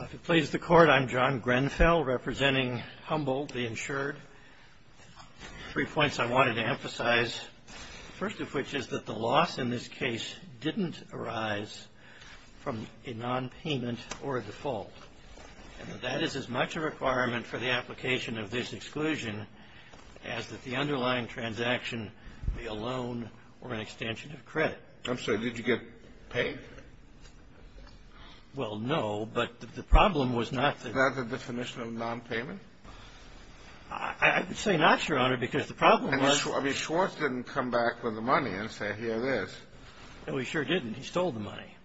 If it pleases the Court, I'm John Grenfell, representing Humboldt, the insured. Three points I wanted to emphasize. The first of which is that the loss in this case didn't arise from a nonpayment or a default. And that that is as much a requirement for the application of this exclusion as that the underlying transaction be a loan or an extension of credit. I'm sorry, did you get paid? Well, no, but the problem was not that... Not the definition of nonpayment? I would say not, Your Honor, because the problem was... I mean, Schwartz didn't come back with the money and say, here it is. No, he sure didn't. He stole the money.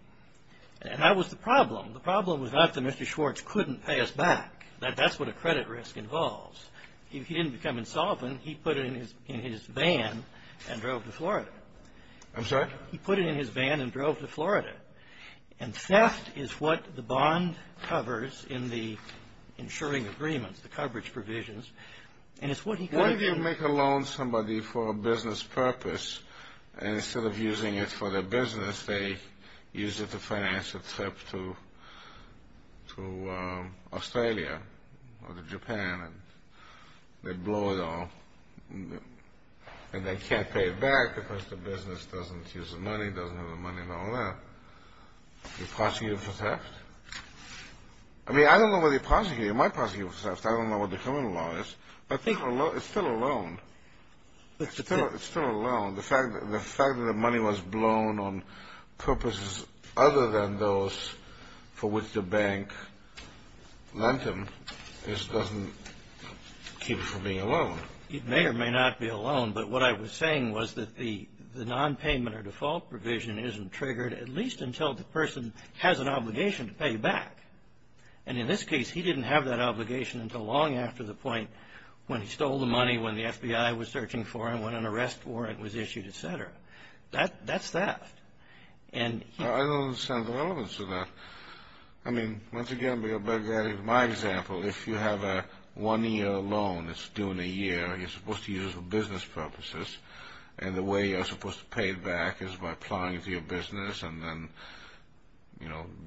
And that was the problem. The problem was not that Mr. Schwartz couldn't pay us back. That's what a credit risk involves. He didn't become insolvent. He put it in his van and drove to Florida. I'm sorry? He put it in his van and drove to Florida. And theft is what the bond covers in the insuring agreements, the coverage provisions. And it's what he... Why do you make a loan to somebody for a business purpose and instead of using it for their business, they use it to finance a trip to Australia or to Japan and they blow it all and they can't pay it back because the business doesn't use the money, doesn't have the money and all that, you prosecute it for theft? I mean, I don't know whether you prosecute it. You might prosecute it for theft. I don't know what the criminal law is. But it's still a loan. It's still a loan. The fact that the money was blown on purposes other than those for which the bank lent him just doesn't keep him from being a loan. It may or may not be a loan. But what I was saying was that the nonpayment or default provision isn't triggered at least until the person has an obligation to pay back. And in this case, he didn't have that obligation until long after the point when he stole the money, when the FBI was searching for him, when an arrest warrant was issued, et cetera. That's theft. I don't understand the relevance of that. I mean, once again, my example, if you have a one-year loan that's due in a year, you're supposed to use it for business purposes, and the way you're supposed to pay it back is by applying it to your business and then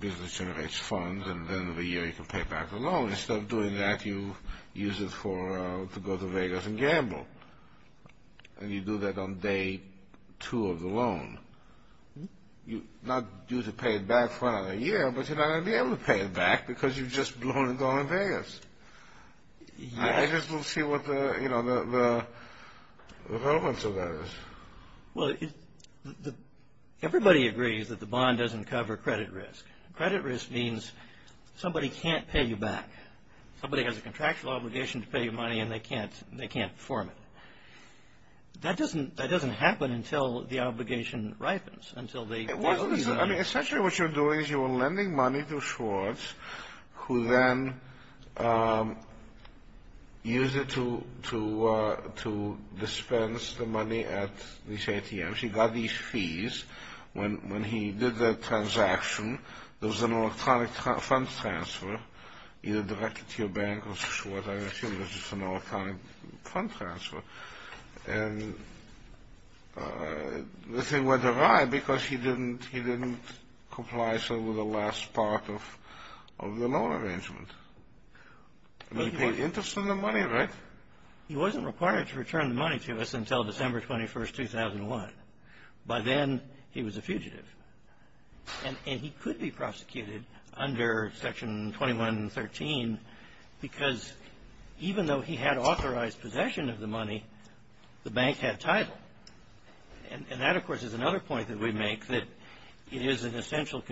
business generates funds and at the end of the year you can pay back the loan. Instead of doing that, you use it to go to Vegas and gamble. And you do that on day two of the loan. You're not due to pay it back for another year, but you're not going to be able to pay it back because you've just blown and gone to Vegas. I just don't see what the relevance of that is. Well, everybody agrees that the bond doesn't cover credit risk. Credit risk means somebody can't pay you back. Somebody has a contractual obligation to pay you money and they can't perform it. That doesn't happen until the obligation ripens. I mean, essentially what you're doing is you're lending money to Schwartz, who then used it to dispense the money at these ATMs. He got these fees. When he did the transaction, there was an electronic fund transfer, either directly to your bank or to Schwartz. I assume it was just an electronic fund transfer. And the thing went awry because he didn't comply with the last part of the loan arrangement. He paid interest on the money, right? He wasn't required to return the money to us until December 21, 2001. By then, he was a fugitive. And he could be prosecuted under Section 2113 because even though he had authorized possession of the money, the bank had title. And that, of course, is another point that we make that it is an essential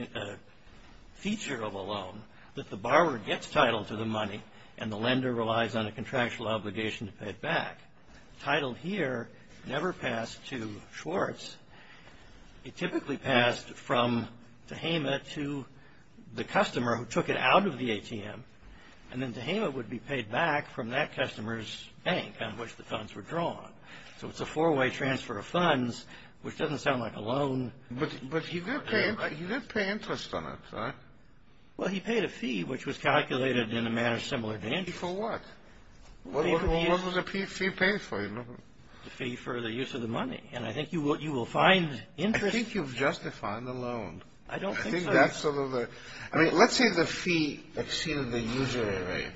feature of a loan that the borrower gets title to the money and the lender relies on a contractual obligation to pay it back. Title here never passed to Schwartz. It typically passed from Tehama to the customer who took it out of the ATM. And then Tehama would be paid back from that customer's bank on which the funds were drawn. So it's a four-way transfer of funds, which doesn't sound like a loan. But he did pay interest on it, right? Well, he paid a fee, which was calculated in a manner similar to interest. For what? What was the fee paid for? The fee for the use of the money. And I think you will find interest. I think you've justified the loan. I don't think so. I mean, let's say the fee exceeded the usury rate.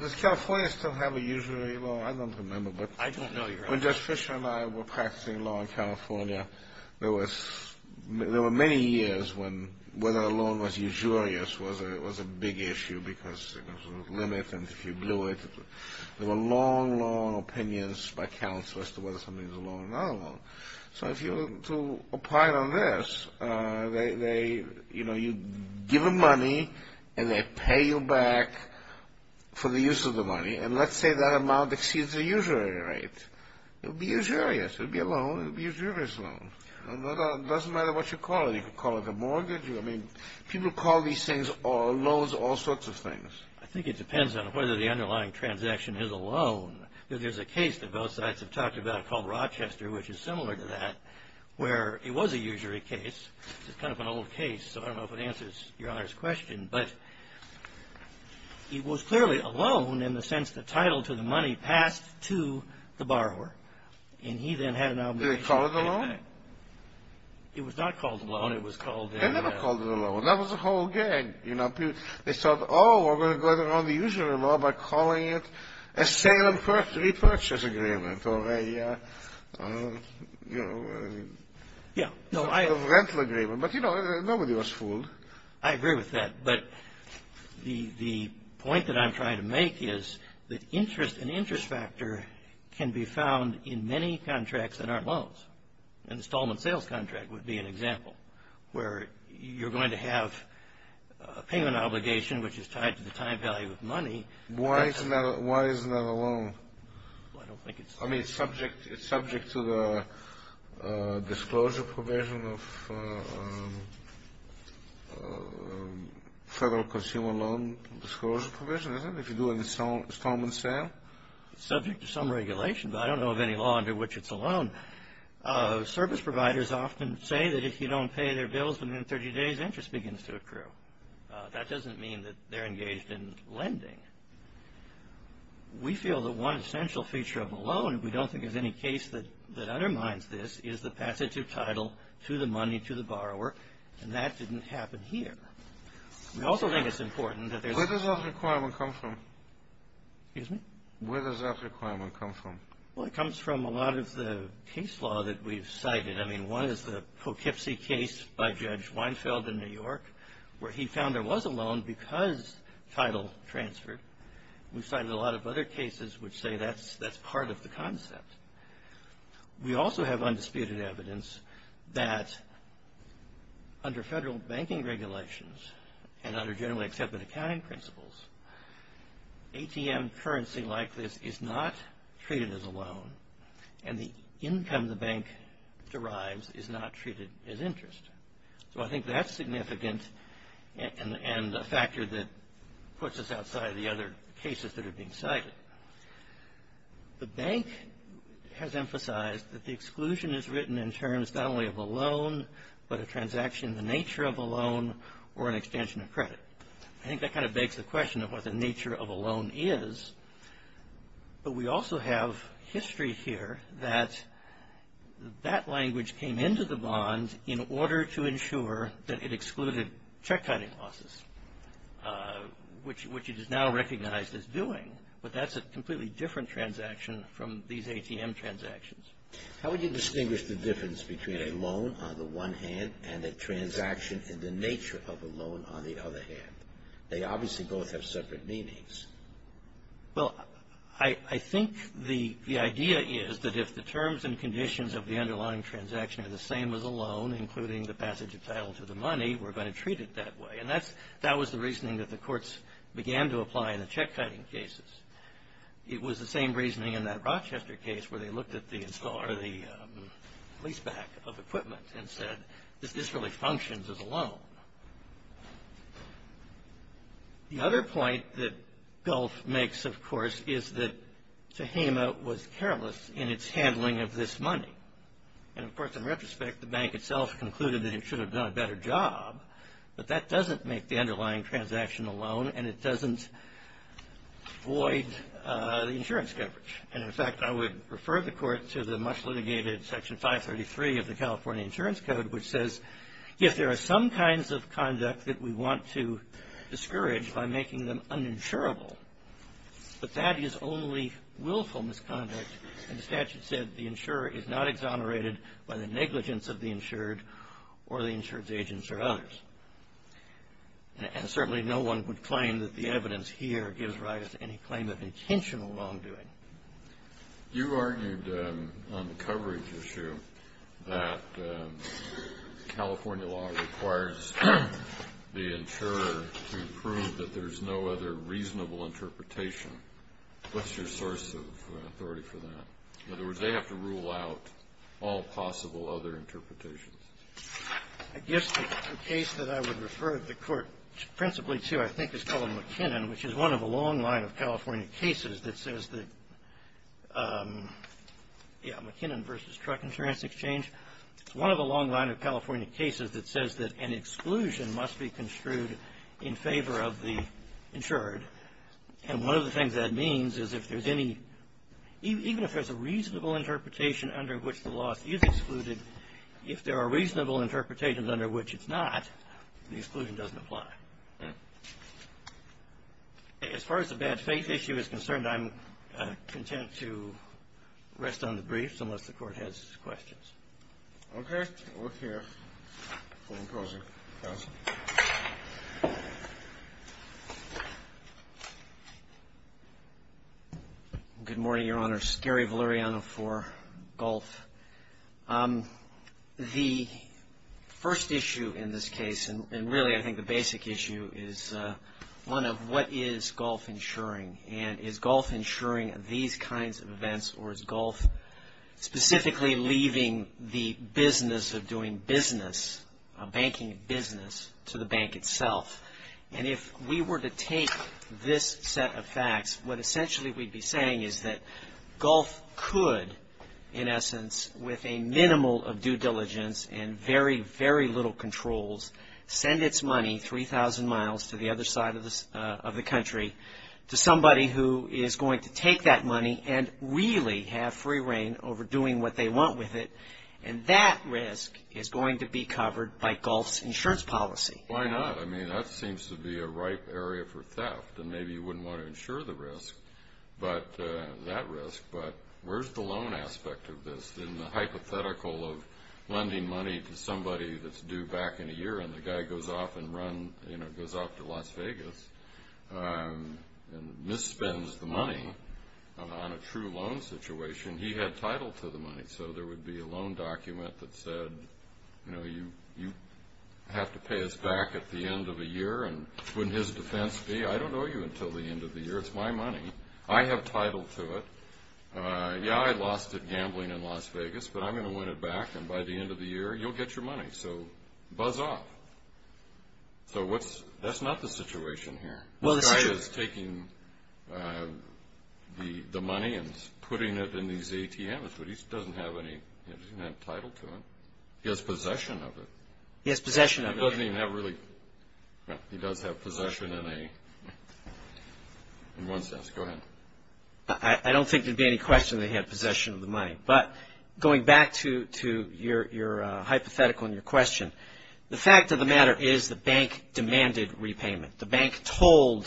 Does California still have a usury law? I don't remember. I don't know either. When Judge Fisher and I were practicing law in California, there were many years when whether a loan was usurious was a big issue because there was a limit and if you blew it, there were long, long opinions by counsel as to whether something was a loan or not a loan. So if you were to apply it on this, you'd give them money and they'd pay you back for the use of the money. And let's say that amount exceeds the usury rate. It would be usurious. It would be a loan. It would be a usurious loan. It doesn't matter what you call it. You could call it a mortgage. I mean, people call these things loans, all sorts of things. I think it depends on whether the underlying transaction is a loan. There's a case that both sides have talked about called Rochester, which is similar to that, where it was a usury case. It's kind of an old case, so I don't know if it answers Your Honor's question, but it was clearly a loan in the sense the title to the money passed to the borrower. And he then had an obligation to pay back. Did they call it a loan? It was not called a loan. It was called a loan. They never called it a loan. That was a whole gag. They thought, oh, we're going to go around the usury law by calling it a sale and repurchase agreement or a rental agreement. But, you know, nobody was fooled. I agree with that. But the point that I'm trying to make is that interest, an interest factor, can be found in many contracts that aren't loans. An installment sales contract would be an example, where you're going to have a payment obligation, which is tied to the time value of money. Why isn't that a loan? I don't think it's a loan. I mean, it's subject to the disclosure provision of Federal Consumer Loan Disclosure Provision, isn't it, if you do an installment sale? It's subject to some regulation, but I don't know of any law under which it's a loan. Service providers often say that if you don't pay their bills within 30 days, interest begins to accrue. That doesn't mean that they're engaged in lending. We feel that one essential feature of a loan, and we don't think there's any case that undermines this, is the passage of title to the money to the borrower, and that didn't happen here. We also think it's important that there's a Where does that requirement come from? Excuse me? Where does that requirement come from? Well, it comes from a lot of the case law that we've cited. I mean, one is the Poughkeepsie case by Judge Weinfeld in New York, where he found there was a loan because title transferred. We've cited a lot of other cases which say that's part of the concept. We also have undisputed evidence that under Federal banking regulations and under generally accepted accounting principles, ATM currency like this is not treated as a loan, and the income the bank derives is not treated as interest. So, I think that's significant and a factor that puts us outside of the other cases that are being cited. The bank has emphasized that the exclusion is written in terms not only of a loan, but a transaction in the nature of a loan or an extension of credit. I think that kind of begs the question of what the nature of a loan is, but we also have history here that that language came into the bond in order to ensure that it excluded check-counting losses, which it is now recognized as doing, but that's a completely different transaction from these ATM transactions. How would you distinguish the difference between a loan on the one hand and a transaction in the nature of a loan on the other hand? They obviously both have separate meanings. Well, I think the idea is that if the terms and conditions of the underlying transaction are the same as a loan, including the passage of title to the money, we're going to treat it that way, and that was the reasoning that the courts began to apply in the check-counting cases. It was the same reasoning in that Rochester case where they looked at the leaseback of equipment and said, this really functions as a loan. The other point that Gulf makes, of course, is that Tehama was careless in its handling of this money. And, of course, in retrospect, the bank itself concluded that it should have done a better job, but that doesn't make the underlying transaction a loan and it doesn't void the insurance coverage. And, in fact, I would refer the court to the much litigated Section 533 of the California Insurance Code, which says if there are some kinds of conduct that we want to discourage by making them uninsurable, but that is only willful misconduct, and the statute said the insurer is not exonerated by the negligence of the insured or the insured's agents or others. And certainly no one would claim that the evidence here gives rise to any claim of intentional wrongdoing. You argued on the coverage issue that California law requires the insurer to prove that there's no other reasonable interpretation. What's your source of authority for that? In other words, they have to rule out all possible other interpretations. I guess the case that I would refer the court principally to I think is called McKinnon, which is one of a long line of California cases that says that, yeah, McKinnon v. Truck Insurance Exchange. It's one of a long line of California cases that says that an exclusion must be construed in favor of the insured. And one of the things that means is if there's any, even if there's a reasonable interpretation under which the loss is excluded, if there are reasonable interpretations under which it's not, the exclusion doesn't apply. As far as the bad faith issue is concerned, I'm content to rest on the briefs unless the court has questions. Okay. We're here. Full enclosure. Good morning, Your Honor. Gary Valeriano for Gulf. The first issue in this case, and really I think the basic issue, is one of what is Gulf insuring, and is Gulf insuring these kinds of events or is Gulf specifically leaving the business of doing business, banking business, to the bank itself? And if we were to take this set of facts, what essentially we'd be saying is that Gulf could, in essence, with a minimal of due diligence and very, very little controls, send its money 3,000 miles to the other side of the country to somebody who is going to take that money and really have free reign over doing what they want with it. And that risk is going to be covered by Gulf's insurance policy. Why not? I mean, that seems to be a ripe area for theft. And maybe you wouldn't want to insure the risk, that risk, but where's the loan aspect of this? In the hypothetical of lending money to somebody that's due back in a year and the guy goes off to Las Vegas and misspends the money on a true loan situation, he had title to the money. So there would be a loan document that said, you know, you have to pay us back at the end of a year. And wouldn't his defense be, I don't owe you until the end of the year. It's my money. I have title to it. Yeah, I lost it gambling in Las Vegas, but I'm going to win it back. And by the end of the year, you'll get your money. So buzz off. So that's not the situation here. The guy is taking the money and putting it in these ATMs, but he doesn't have any title to it. He has possession of it. He has possession of it. He doesn't even have really – he does have possession in a – in one sense. Go ahead. I don't think there would be any question that he had possession of the money. But going back to your hypothetical and your question, the fact of the matter is the bank demanded repayment. The bank told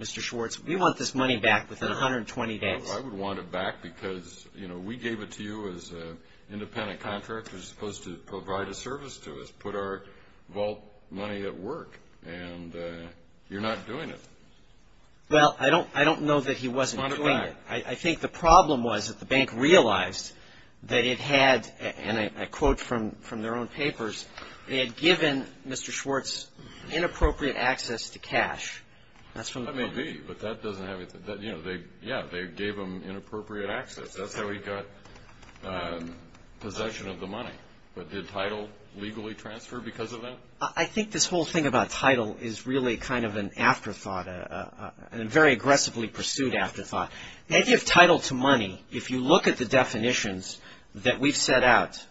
Mr. Schwartz, we want this money back within 120 days. I would want it back because, you know, we gave it to you as an independent contractor. You're supposed to provide a service to us, put our vault money at work, and you're not doing it. Well, I don't know that he wasn't doing it. I think the problem was that the bank realized that it had, and I quote from their own papers, they had given Mr. Schwartz inappropriate access to cash. That may be, but that doesn't have – yeah, they gave him inappropriate access. That's how he got possession of the money. But did title legally transfer because of that? I think this whole thing about title is really kind of an afterthought, a very aggressively pursued afterthought. The idea of title to money, if you look at the definitions that we've set out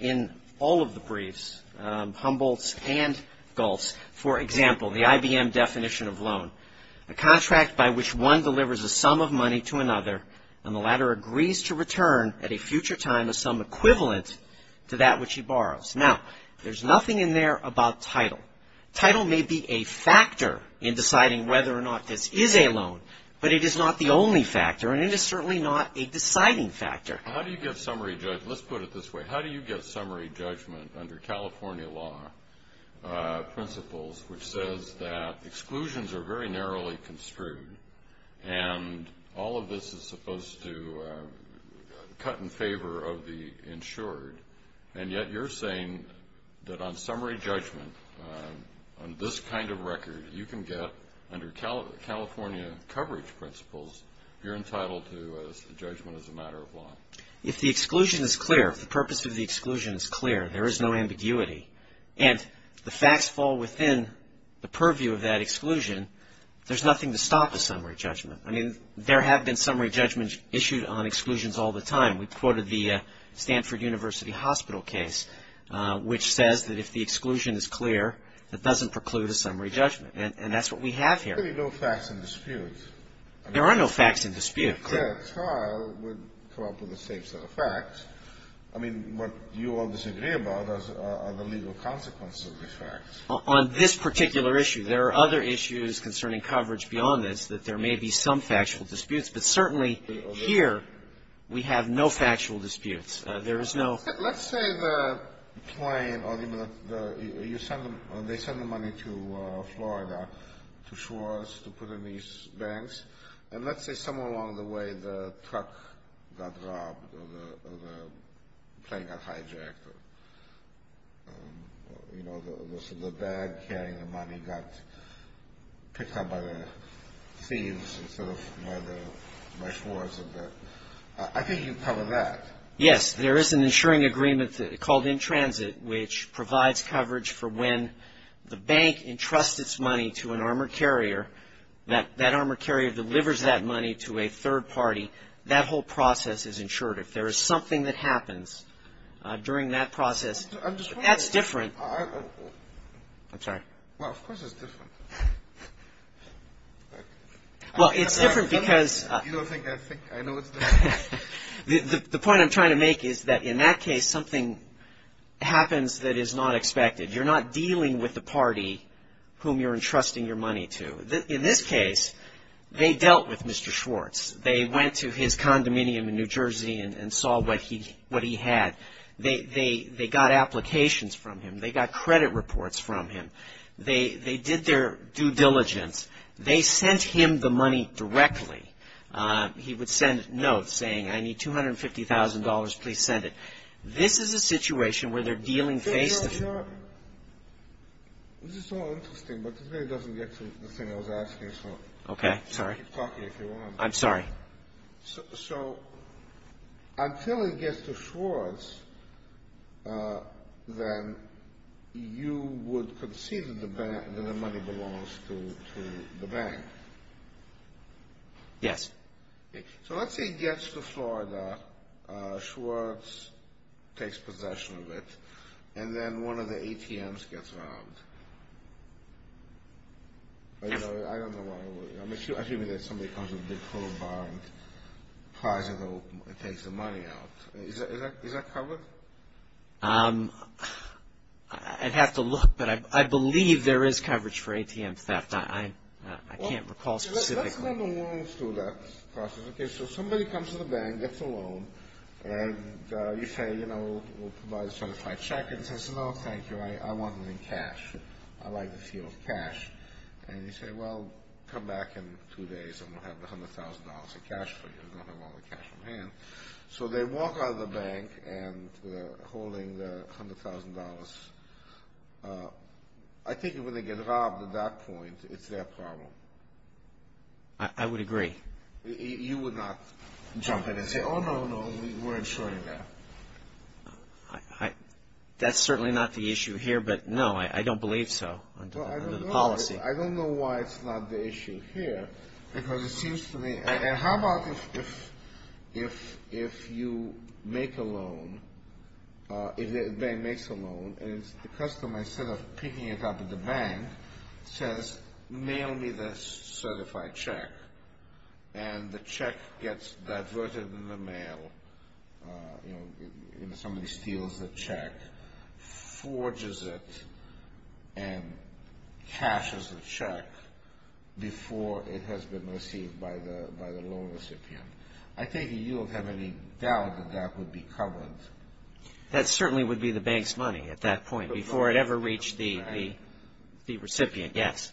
in all of the briefs, Humboldt's and Galt's, for example, the IBM definition of loan, a contract by which one delivers a sum of money to another and the latter agrees to return at a future time a sum equivalent to that which he borrows. Now, there's nothing in there about title. Title may be a factor in deciding whether or not this is a loan, but it is not the only factor and it is certainly not a deciding factor. How do you get summary – let's put it this way. How do you get summary judgment under California law principles which says that exclusions are very narrowly construed and all of this is supposed to cut in favor of the insured, and yet you're saying that on summary judgment, on this kind of record, you can get under California coverage principles, you're entitled to a judgment as a matter of law. If the exclusion is clear, if the purpose of the exclusion is clear, there is no ambiguity, and the facts fall within the purview of that exclusion, there's nothing to stop the summary judgment. I mean, there have been summary judgments issued on exclusions all the time. We quoted the Stanford University Hospital case, which says that if the exclusion is clear, it doesn't preclude a summary judgment, and that's what we have here. There are no facts in dispute. There are no facts in dispute. A fair trial would come up with the same set of facts. I mean, what you all disagree about are the legal consequences of the facts. On this particular issue, there are other issues concerning coverage beyond this that there may be some factual disputes, but certainly here we have no factual disputes. There is no ---- I think you cover that. Yes, there is an insuring agreement called In Transit, which provides coverage for when the bank entrusts its money to an armor carrier, that that armor carrier delivers that money to a third party, that whole process is insured. If there is something that happens during that process, that's different. I'm sorry. Well, of course it's different. Well, it's different because ---- You don't think I think, I know it's different. The point I'm trying to make is that in that case, something happens that is not expected. You're not dealing with the party whom you're entrusting your money to. In this case, they dealt with Mr. Schwartz. They went to his condominium in New Jersey and saw what he had. They got applications from him. They got credit reports from him. They did their due diligence. They sent him the money directly. He would send notes saying, I need $250,000. Please send it. This is a situation where they're dealing face to face. This is so interesting, but it really doesn't get to the thing I was asking. Okay. Sorry. Keep talking if you want. I'm sorry. So until it gets to Schwartz, then you would concede that the money belongs to the bank? Yes. So let's say it gets to Florida. Schwartz takes possession of it, and then one of the ATMs gets robbed. I don't know why. I'm assuming that somebody comes with a big polo bar and tries to take some money out. Is that covered? I'd have to look, but I believe there is coverage for ATM theft. I can't recall specifically. Let's let the loans do that process. Okay, so somebody comes to the bank, gets a loan, and you say, you know, we'll provide a certified check. The bank says, no, thank you. I want it in cash. I like the feel of cash. And you say, well, come back in two days, and we'll have $100,000 in cash for you. You don't have all the cash on hand. So they walk out of the bank holding the $100,000. I think when they get robbed at that point, it's their problem. I would agree. You would not jump in and say, oh, no, no, we're insuring that. That's certainly not the issue here, but, no, I don't believe so under the policy. I don't know why it's not the issue here, because it seems to me – and how about if you make a loan, if the bank makes a loan, and the customer, instead of picking it up at the bank, says, mail me the certified check, and the check gets adverted in the mail, and somebody steals the check, forges it, and cashes the check before it has been received by the loan recipient. I think you don't have any doubt that that would be covered. That certainly would be the bank's money at that point, before it ever reached the recipient, yes.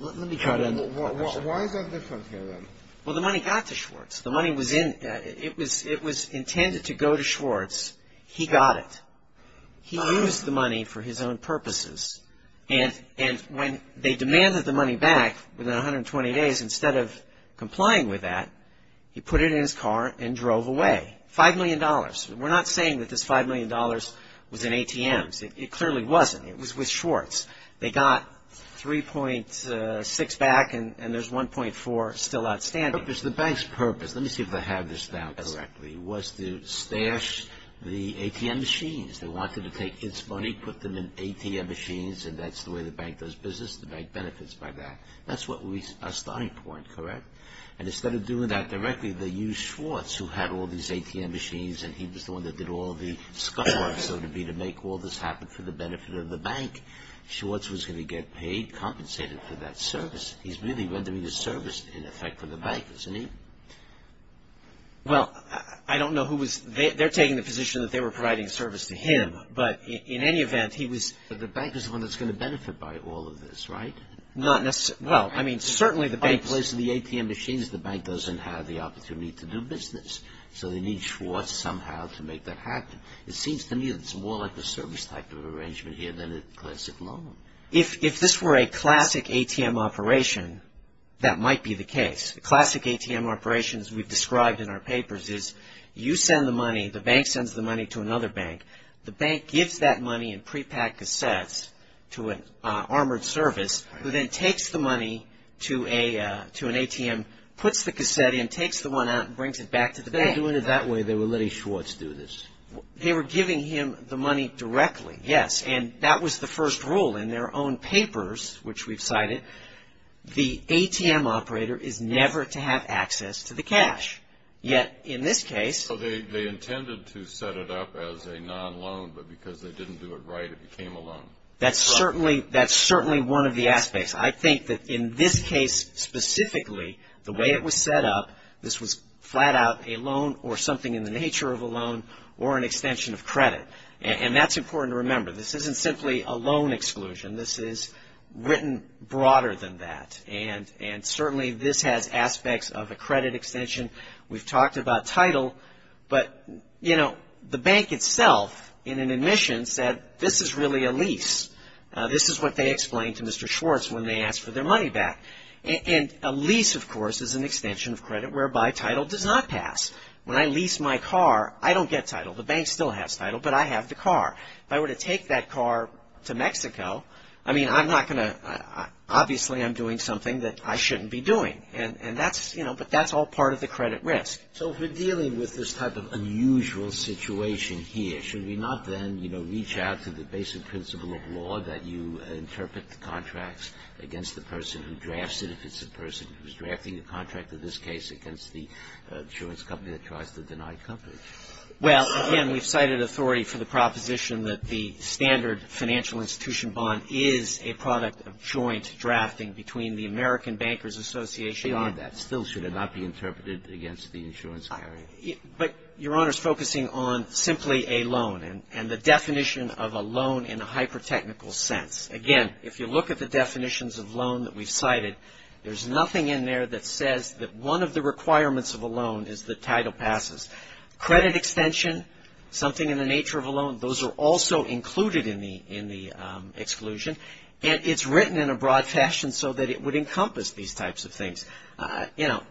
Let me try to understand. Why is that different here, then? Well, the money got to Schwartz. The money was in – it was intended to go to Schwartz. He got it. He used the money for his own purposes. And when they demanded the money back within 120 days, instead of complying with that, he put it in his car and drove away. $5 million. We're not saying that this $5 million was in ATMs. It clearly wasn't. It was with Schwartz. They got 3.6 back, and there's 1.4 still outstanding. The bank's purpose – let me see if I have this down correctly – was to stash the ATM machines. They wanted to take kids' money, put them in ATM machines, and that's the way the bank does business. The bank benefits by that. That's our starting point, correct? And instead of doing that directly, they used Schwartz, who had all these ATM machines, and he was the one that did all the scuffling, so to speak, to make all this happen for the benefit of the bank. Schwartz was going to get paid, compensated for that service. He's really rendering the service, in effect, for the bank, isn't he? Well, I don't know who was – they're taking the position that they were providing service to him, but in any event, he was – But the bank was the one that's going to benefit by all of this, right? Not necessarily – well, I mean, certainly the bank – In place of the ATM machines, the bank doesn't have the opportunity to do business. So they need Schwartz somehow to make that happen. It seems to me that it's more like a service type of arrangement here than a classic loan. If this were a classic ATM operation, that might be the case. A classic ATM operation, as we've described in our papers, is you send the money, the bank sends the money to another bank. The bank gives that money in prepack cassettes to an armored service, who then takes the money to an ATM, puts the cassette in, and then takes the one out and brings it back to the bank. They were doing it that way. They were letting Schwartz do this. They were giving him the money directly, yes. And that was the first rule in their own papers, which we've cited. The ATM operator is never to have access to the cash. Yet, in this case – So they intended to set it up as a non-loan, but because they didn't do it right, it became a loan. That's certainly one of the aspects. I think that in this case specifically, the way it was set up, this was flat out a loan or something in the nature of a loan or an extension of credit. And that's important to remember. This isn't simply a loan exclusion. This is written broader than that. And certainly this has aspects of a credit extension. We've talked about title, but, you know, the bank itself, in an admission, said this is really a lease. This is what they explained to Mr. Schwartz when they asked for their money back. And a lease, of course, is an extension of credit whereby title does not pass. When I lease my car, I don't get title. The bank still has title, but I have the car. If I were to take that car to Mexico, I mean, I'm not going to – obviously I'm doing something that I shouldn't be doing. And that's – you know, but that's all part of the credit risk. So if we're dealing with this type of unusual situation here, should we not then, you know, reach out to the basic principle of law that you interpret the contracts against the person who drafts it, if it's a person who's drafting a contract, in this case, against the insurance company that tries to deny coverage? Well, again, we've cited authority for the proposition that the standard financial institution bond is a product of joint drafting between the American Bankers Association and the – Beyond that, still should it not be interpreted against the insurance company? But, Your Honor, it's focusing on simply a loan and the definition of a loan in a hyper-technical sense. Again, if you look at the definitions of loan that we've cited, there's nothing in there that says that one of the requirements of a loan is that title passes. Credit extension, something in the nature of a loan, those are also included in the exclusion. And it's written in a broad fashion so that it would encompass these types of things. You know,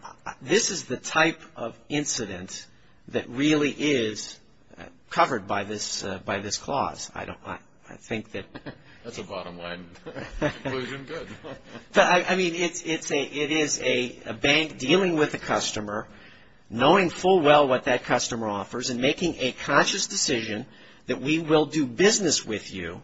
this is the type of incident that really is covered by this clause. I don't – I think that – That's a bottom-line conclusion. Good. I mean, it is a bank dealing with a customer, knowing full well what that customer offers and making a conscious decision that we will do business with you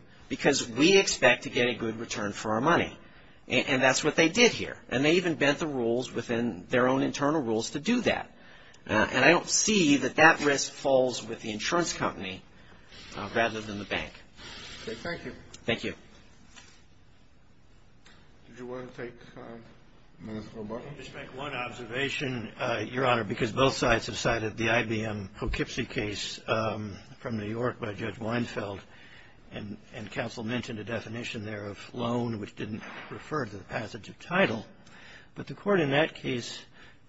And that's what they did here. And they even bent the rules within their own internal rules to do that. And I don't see that that risk falls with the insurance company rather than the bank. Okay. Thank you. Thank you. Did you want to take, Mr. Lombardo? I'll just make one observation, Your Honor, because both sides have cited the IBM Hochipsy case from New York by Judge Weinfeld. And counsel mentioned a definition there of loan, which didn't refer to the passage of title. But the court in that case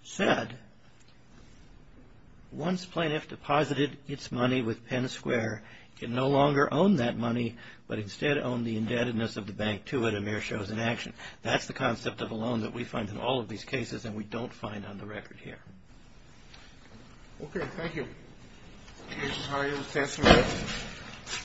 said, once plaintiff deposited its money with Penn Square, it no longer owned that money, but instead owned the indebtedness of the bank to it, a mere show of inaction. That's the concept of a loan that we find in all of these cases, and we don't find on the record here. Okay. Thank you. Thank you, Your Honor. You may be dismissed.